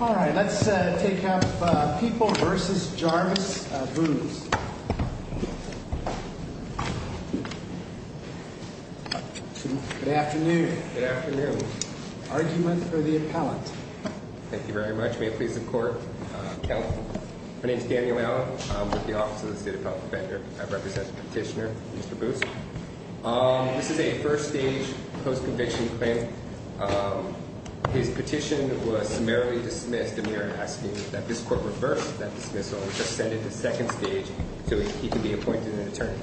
All right, let's take up People v. Jarvis Boose. Good afternoon. Good afternoon. Argument for the appellant. Thank you very much. May it please the Court, count. My name is Daniel Allen. I'm with the Office of the State Appellant Defender. I represent the petitioner, Mr. Boose. This is a first-stage, post-conviction claim. His petition was summarily dismissed, and we are asking that this Court reverse that dismissal and just send it to second stage so he can be appointed an attorney.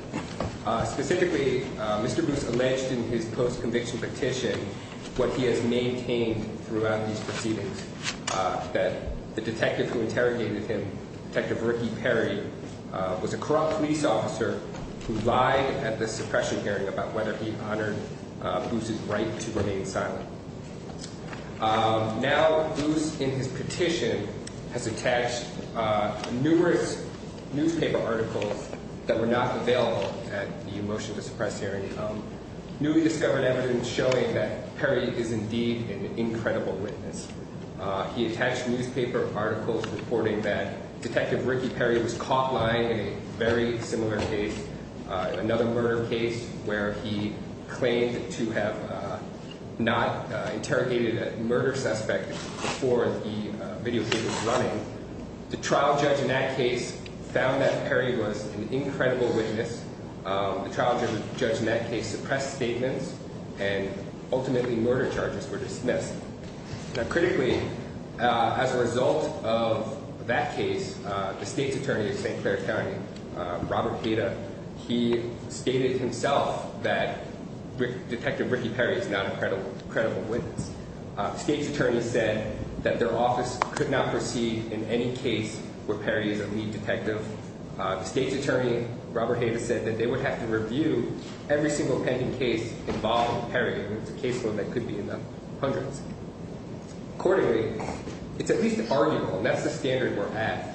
Specifically, Mr. Boose alleged in his post-conviction petition what he has maintained throughout these proceedings, that the detective who interrogated him, Detective Ricky Perry, was a corrupt police officer who lied at the suppression hearing about whether he honored Boose's right to remain silent. Now, Boose, in his petition, has attached numerous newspaper articles that were not available at the motion to suppress hearing. Newly discovered evidence showing that Perry is indeed an incredible witness. He attached newspaper articles reporting that Detective Ricky Perry was caught lying in a very similar case, another murder case where he claimed to have not interrogated a murder suspect before the videotape was running. The trial judge in that case found that Perry was an incredible witness. The trial judge in that case suppressed statements, and ultimately murder charges were dismissed. Now, critically, as a result of that case, the state's attorney at St. Clair County, Robert Heda, he stated himself that Detective Ricky Perry is not an incredible witness. The state's attorney said that their office could not proceed in any case where Perry is a lead detective. The state's attorney, Robert Heda, said that they would have to review every single pending case involving Perry, and it's a case that could be in the hundreds. Accordingly, it's at least arguable, and that's the standard we're at.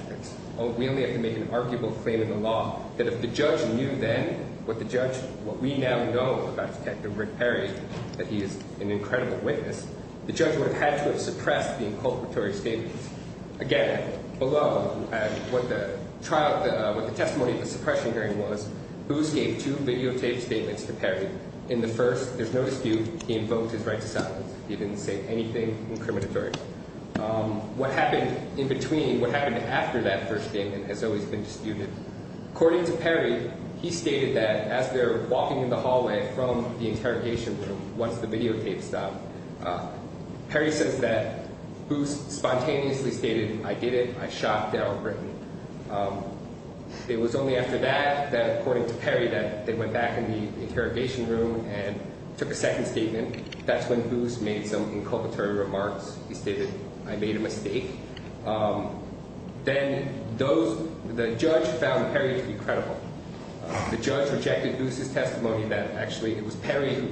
We only have to make an arguable claim in the law that if the judge knew then what we now know about Detective Rick Perry, that he is an incredible witness, the judge would have had to have suppressed the inculpatory statements. Again, below what the testimony of the suppression hearing was, Boos gave two videotaped statements to Perry. In the first, there's no dispute, he invoked his right to silence. He didn't say anything incriminatory. What happened in between, what happened after that first statement, has always been disputed. According to Perry, he stated that as they're walking in the hallway from the interrogation room, once the videotape stopped, Perry says that Boos spontaneously stated, I did it, I shot Daryl Britton. It was only after that, according to Perry, that they went back in the interrogation room and took a second statement. That's when Boos made some inculpatory remarks. He stated, I made a mistake. Then the judge found Perry to be credible. The judge rejected Boos' testimony that actually it was Perry who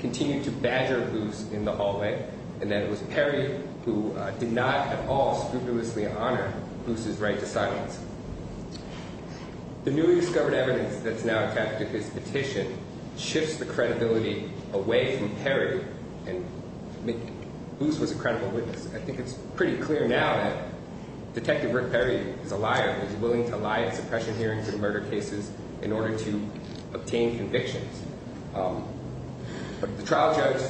continued to badger Boos in the hallway, and that it was Perry who did not at all scrupulously honor Boos' right to silence. The newly discovered evidence that's now attached to his petition shifts the credibility away from Perry. Boos was a credible witness. I think it's pretty clear now that Detective Rick Perry is a liar. He's willing to lie at suppression hearings and murder cases in order to obtain convictions. The trial judge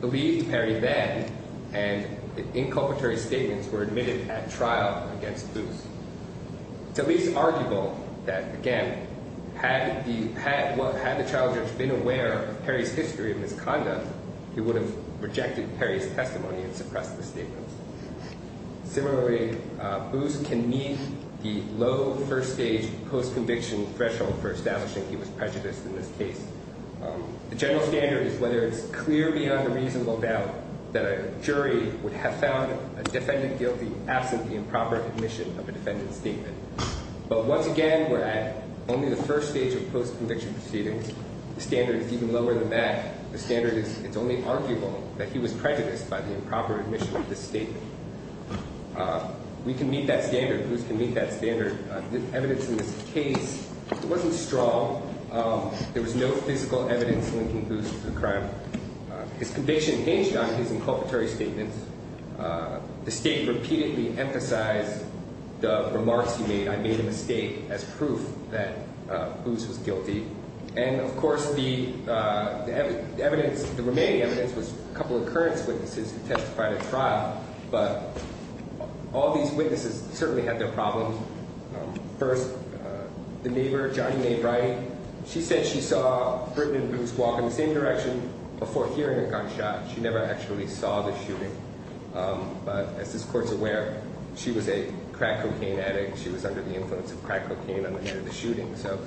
believed Perry then, and the inculpatory statements were admitted at trial against Boos. It's at least arguable that, again, had the trial judge been aware of Perry's history of misconduct, he would have rejected Perry's testimony and suppressed the statements. Similarly, Boos can meet the low first-stage post-conviction threshold for establishing he was prejudiced in this case. The general standard is whether it's clear beyond a reasonable doubt that a jury would have found a defendant guilty absent the improper admission of a defendant's statement. But once again, we're at only the first stage of post-conviction proceedings. The standard is even lower than that. The standard is it's only arguable that he was prejudiced by the improper admission of this statement. We can meet that standard. Boos can meet that standard. The evidence in this case wasn't strong. There was no physical evidence linking Boos to the crime. His conviction hinged on his inculpatory statements. The state repeatedly emphasized the remarks he made, and made a mistake as proof that Boos was guilty. And, of course, the remaining evidence was a couple of current witnesses who testified at trial. But all these witnesses certainly had their problems. First, the neighbor, Johnny Mae Wright, she said she saw Brittany and Boos walk in the same direction before hearing a gunshot. She never actually saw the shooting. But as this Court's aware, she was a crack cocaine addict. She was under the influence of crack cocaine on the night of the shooting. So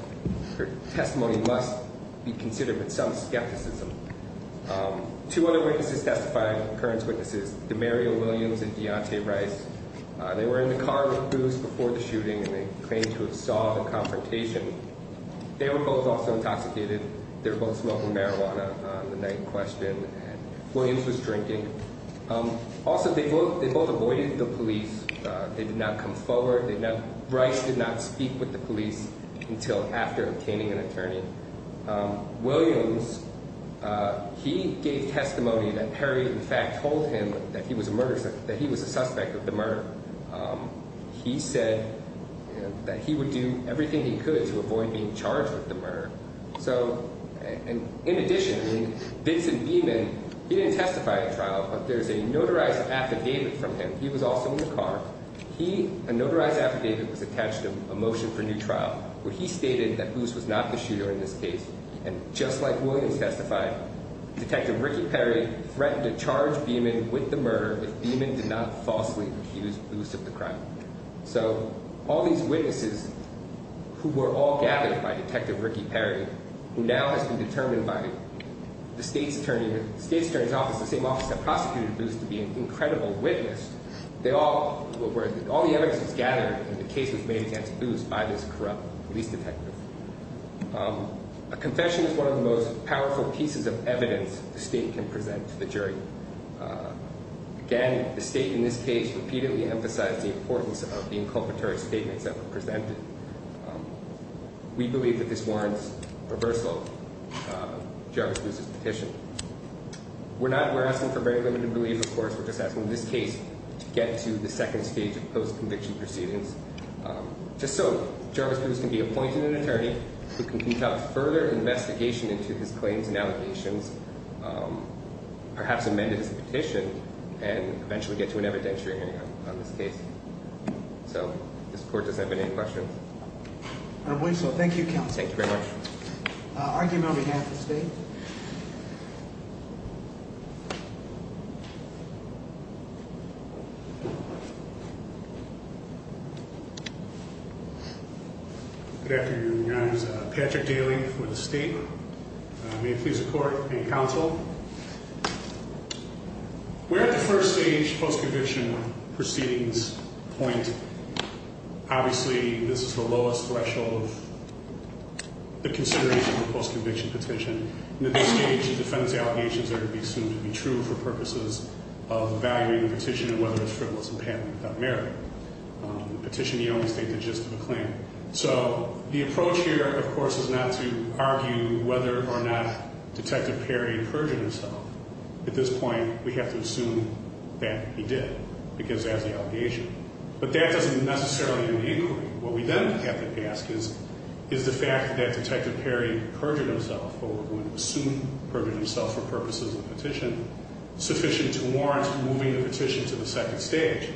her testimony must be considered with some skepticism. Two other witnesses testified, current witnesses, Demario Williams and Deontay Rice. They were in the car with Boos before the shooting, and they claimed to have saw the confrontation. They were both also intoxicated. They were both smoking marijuana on the night in question, and Williams was drinking. Also, they both avoided the police. They did not come forward. Rice did not speak with the police until after obtaining an attorney. Williams, he gave testimony that Perry, in fact, told him that he was a suspect of the murder. He said that he would do everything he could to avoid being charged with the murder. In addition, Vincent Beeman, he didn't testify at trial, but there's a notarized affidavit from him. He was also in the car. He, a notarized affidavit was attached to him, a motion for new trial, where he stated that Boos was not the shooter in this case. And just like Williams testified, Detective Ricky Perry threatened to charge Beeman with the murder if Beeman did not falsely accuse Boos of the crime. So all these witnesses who were all gathered by Detective Ricky Perry, who now has been determined by the State's Attorney's Office, the same office that prosecuted Boos, to be an incredible witness, all the evidence was gathered and the case was made against Boos by this corrupt police detective. A confession is one of the most powerful pieces of evidence the State can present to the jury. Again, the State in this case repeatedly emphasized the importance of the inculpatory statements that were presented. We believe that this warrants reversal of Jarvis Boos's petition. We're just asking this case to get to the second stage of post-conviction proceedings, just so Jarvis Boos can be appointed an attorney who can conduct further investigation into his claims and allegations, perhaps amend his petition, and eventually get to an evidentiary hearing on this case. So, does the Court have any questions? I believe so. Thank you, Counsel. Thank you very much. Argument on behalf of the State. Good afternoon, Your Honors. Patrick Daly for the State. May it please the Court and Counsel. We're at the first stage post-conviction proceedings point. Obviously, this is the lowest threshold of the consideration of the post-conviction petition. And at this stage, the defendant's allegations are to be assumed to be true for purposes of evaluating the petition and whether it's frivolous and patent without merit. The petition, you only state the gist of the claim. So, the approach here, of course, is not to argue whether or not Detective Perry perjured himself. At this point, we have to assume that he did, because that's the allegation. But that doesn't necessarily mean inquiry. What we then have to ask is, is the fact that Detective Perry perjured himself, what we're going to assume perjured himself for purposes of the petition, sufficient to warrant moving the petition to the second stage?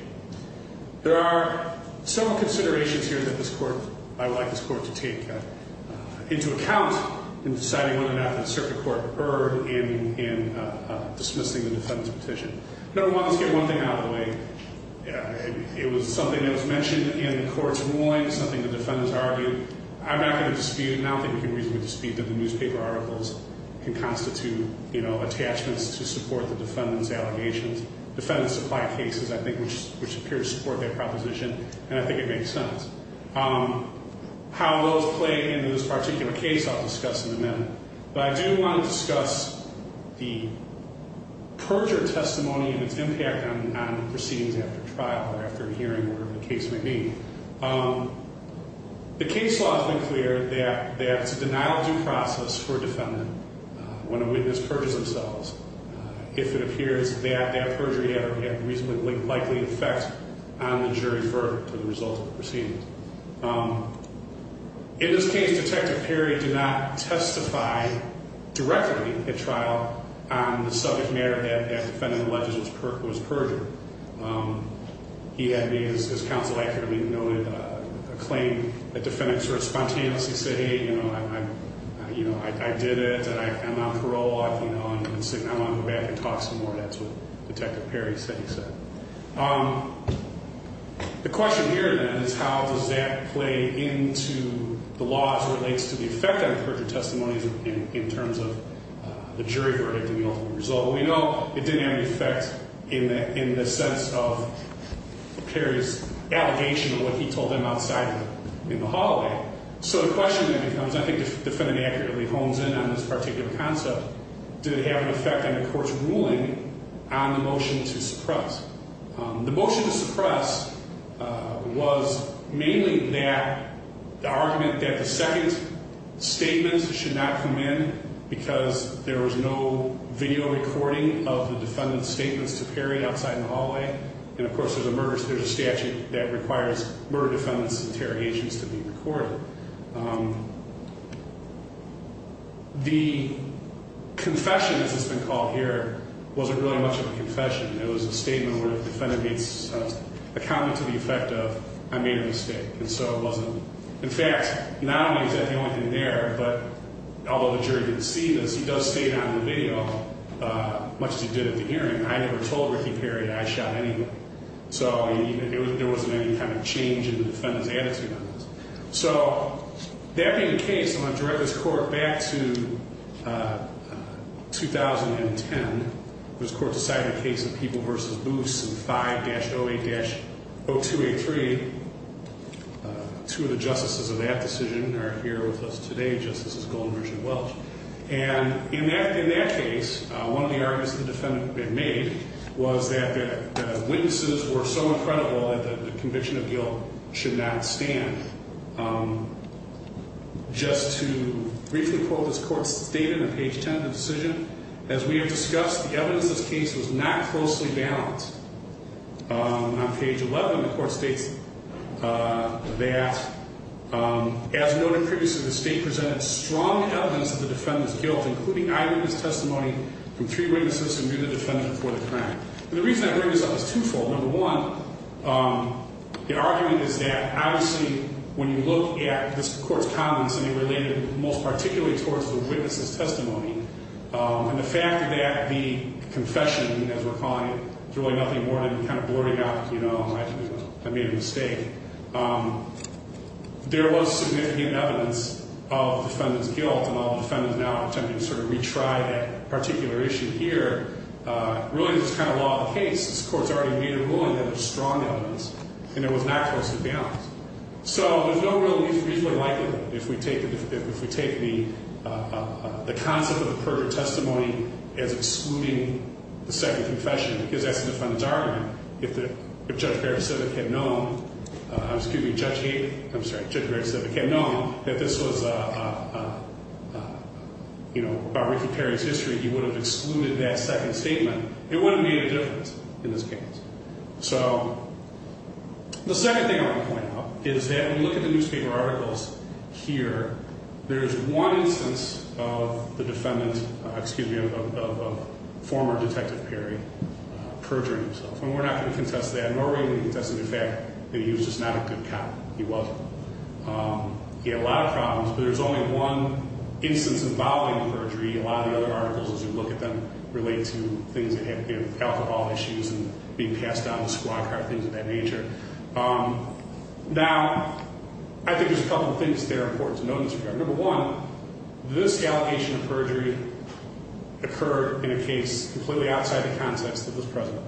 There are several considerations here that this Court, I would like this Court to take into account in deciding whether or not the circuit court erred in dismissing the defendant's petition. Number one, let's get one thing out of the way. It was something that was mentioned in the court's ruling, something the defendants argued. I'm not going to dispute, and I don't think we can reasonably dispute that the newspaper articles can constitute, you know, attachments to support the defendant's allegations. Defendants supply cases, I think, which appear to support that proposition, and I think it makes sense. How those play into this particular case, I'll discuss in a minute. But I do want to discuss the perjure testimony and its impact on proceedings after trial or after hearing, whatever the case may be. The case law has been clear that it's a denial of due process for a defendant when a witness perjures themselves, if it appears that that perjury had a reasonably likely effect on the jury's verdict of the result of the proceedings. In this case, Detective Perry did not testify directly at trial on the subject matter that that defendant alleged was perjured. He had made, as counsel accurately noted, a claim that defendants were spontaneous. He said, hey, you know, I did it. I'm on parole. I'm going to go back and talk some more. That's what Detective Perry said. The question here, then, is how does that play into the law as it relates to the effect on perjure testimonies in terms of the jury verdict and the ultimate result? We know it didn't have an effect in the sense of Perry's allegation of what he told them outside in the hallway. So the question then becomes, I think the defendant accurately hones in on this particular concept, did it have an effect on the court's ruling on the motion to suppress? The motion to suppress was mainly that the argument that the second statement should not come in because there was no video recording of the defendant's statements to Perry outside in the hallway. And, of course, there's a statute that requires murder defendants' interrogations to be recorded. The confession, as it's been called here, wasn't really much of a confession. It was a statement where the defendant made a comment to the effect of, I made a mistake. And so it wasn't, in fact, not only is that the only thing there, but although the jury didn't see this, he does state on the video much as he did at the hearing. I never told Ricky Perry that I shot anyone. So there wasn't any kind of change in the defendant's attitude on this. So that being the case, I'm going to direct this court back to 2010. This court decided the case of People v. Boots in 5-08-0283. Two of the justices of that decision are here with us today. Justice Goldenberg and Welch. And in that case, one of the arguments the defendant had made was that the witnesses were so incredible that the conviction of guilt should not stand. Just to briefly quote this court's statement on page 10 of the decision, as we have discussed, the evidence of this case was not closely balanced. On page 11, the court states that, as noted previously, the state presented strong evidence of the defendant's guilt, including eyewitness testimony from three witnesses who knew the defendant before the crime. And the reason I bring this up is twofold. Number one, the argument is that, obviously, when you look at this court's comments, they related most particularly towards the witness's testimony. And the fact that the confession, as we're calling it, is really nothing more than kind of blurting out, you know, I made a mistake. There was significant evidence of the defendant's guilt, and all the defendants now are attempting to sort of retry that particular issue here. Really, this is kind of law of the case. This court's already made a ruling that there's strong evidence, and it was not closely balanced. So there's no real reason to like it if we take the concept of the perfect testimony as excluding the second confession, because that's the defendant's argument. If Judge Barry Pacific had known that this was, you know, about Ricky Perry's history, he would have excluded that second statement. It wouldn't have made a difference in this case. So the second thing I want to point out is that when you look at the newspaper articles here, there's one instance of the defendant, excuse me, of former Detective Perry perjuring himself. And we're not going to contest that, nor are we going to contest the fact that he was just not a good cop. He wasn't. He had a lot of problems, but there's only one instance involving the perjury. A lot of the other articles, as you look at them, relate to things that have to do with alcohol issues and being passed down to squad car, things of that nature. Now, I think there's a couple of things that are important to note in this regard. Number one, this allegation of perjury occurred in a case completely outside the context of this precedent.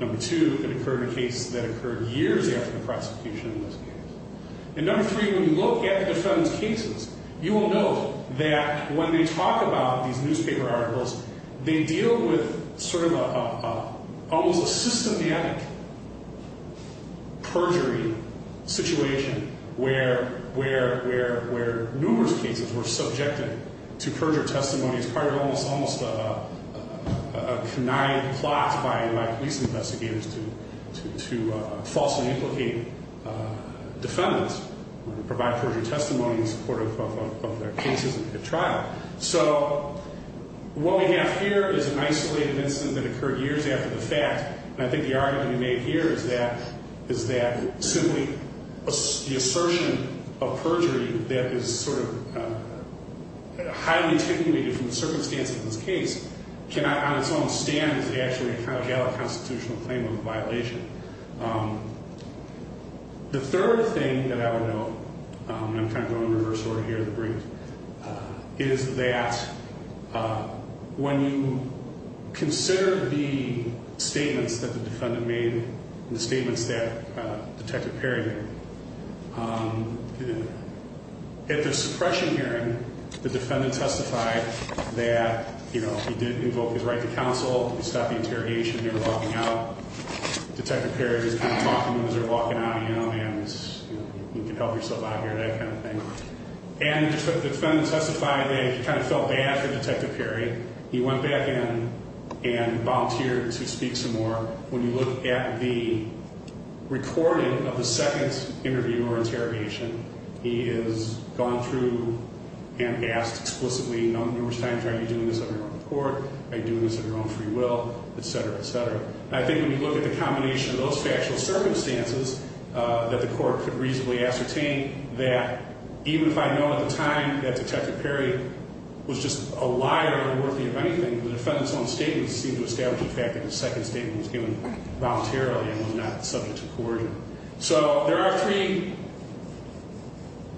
Number two, it occurred in a case that occurred years after the prosecution in this case. And number three, when you look at the defendant's cases, you will note that when they talk about these newspaper articles, they deal with sort of almost a systematic perjury situation where numerous cases were subjected to perjure testimonies, which is part of almost a canine plot by police investigators to falsely implicate defendants and provide perjury testimony in support of their cases at trial. So what we have here is an isolated incident that occurred years after the fact. And I think the argument to be made here is that simply the assertion of perjury that is sort of highly attenuated from the circumstances of this case cannot on its own stand actually kind of gather a constitutional claim of a violation. The third thing that I would note, and I'm kind of going in reverse order here, is that when you consider the statements that the defendant made and the statements that Detective Perry made, at the suppression hearing, the defendant testified that, you know, he did invoke his right to counsel. He stopped the interrogation. They were walking out. Detective Perry was kind of talking to them as they were walking out. You know, man, you can help yourself out here, that kind of thing. And the defendant testified that he kind of felt bad for Detective Perry. He went back in and volunteered to speak some more. When you look at the recording of the second interview or interrogation, he has gone through and asked explicitly numerous times, are you doing this at your own court? Are you doing this at your own free will? Et cetera, et cetera. I think when you look at the combination of those factual circumstances that the court could reasonably ascertain that even if I know at the time that Detective Perry was just a liar and unworthy of anything, the defendant's own statements seem to establish the fact that the second statement was given voluntarily and was not subject to coercion. So there are three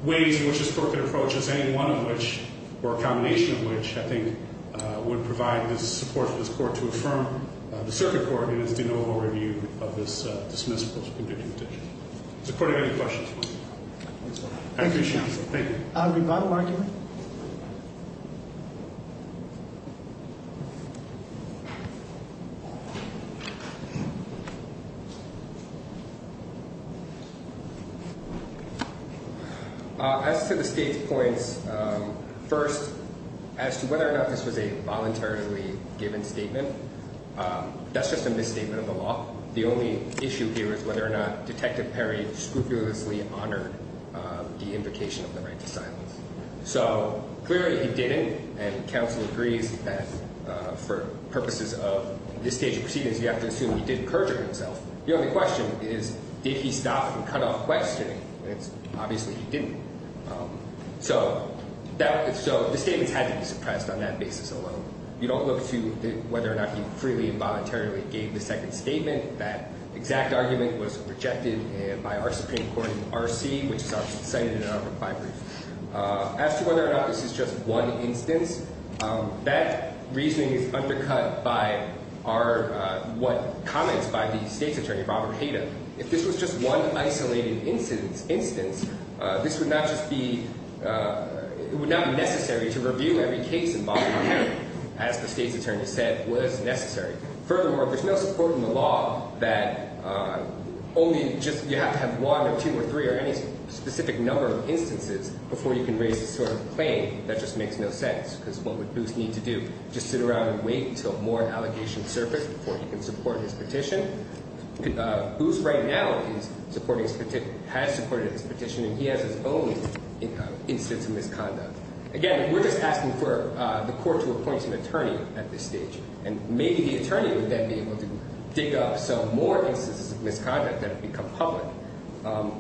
ways in which this court could approach this, or a combination of which I think would provide the support for this court to affirm the circuit court in its de novo review of this dismissed post-conviction petition. Does the court have any questions? I appreciate this. Thank you. I'll be biomarking. As to the state's points, first, as to whether or not this was a voluntarily given statement, that's just a misstatement of the law. The only issue here is whether or not Detective Perry scrupulously honored the invocation of the right to silence. So clearly he didn't, and counsel agrees that for purposes of this stage of proceedings, you have to assume he did perjure himself. The only question is, did he stop and cut off questioning? Obviously he didn't. So the statements had to be suppressed on that basis alone. You don't look to whether or not he freely and voluntarily gave the second statement. That exact argument was rejected by our Supreme Court in RC, which is obviously cited in our reply brief. As to whether or not this is just one instance, that reasoning is undercut by our comments by the state's attorney, Robert Hayden. If this was just one isolated instance, this would not just be necessary to review every case involved, as the state's attorney said was necessary. Furthermore, there's no support in the law that only just you have to have one or two or three or any specific number of instances before you can raise this sort of claim that just makes no sense, because what would Booth need to do? Just sit around and wait until more allegations surface before he can support his petition? Booth right now has supported his petition, and he has his own instance of misconduct. Again, we're just asking for the court to appoint an attorney at this stage. And maybe the attorney would then be able to dig up some more instances of misconduct that have become public.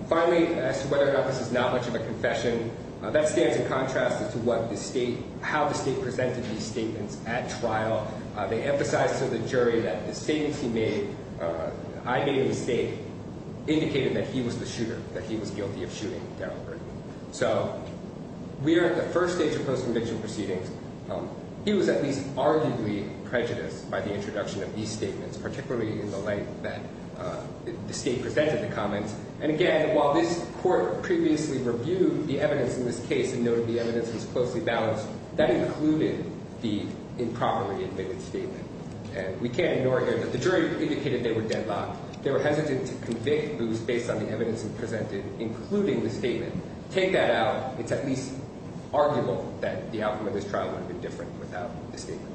Finally, as to whether or not this is not much of a confession, that stands in contrast to how the state presented these statements at trial. They emphasized to the jury that the statements he made, I made a mistake, indicated that he was the shooter, that he was guilty of shooting Daryl Bird. So we are at the first stage of post-conviction proceedings. He was at least arguably prejudiced by the introduction of these statements, particularly in the light that the state presented the comments. And again, while this court previously reviewed the evidence in this case and noted the evidence was closely balanced, that included the improperly admitted statement. And we can't ignore here that the jury indicated they were deadlocked. They were hesitant to convict, but it was based on the evidence presented, including the statement. Take that out. It's at least arguable that the outcome of this trial would have been different without the statement.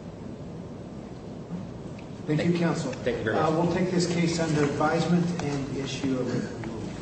Thank you, counsel. Thank you very much. We'll take this case under advisement and issue a written ruling.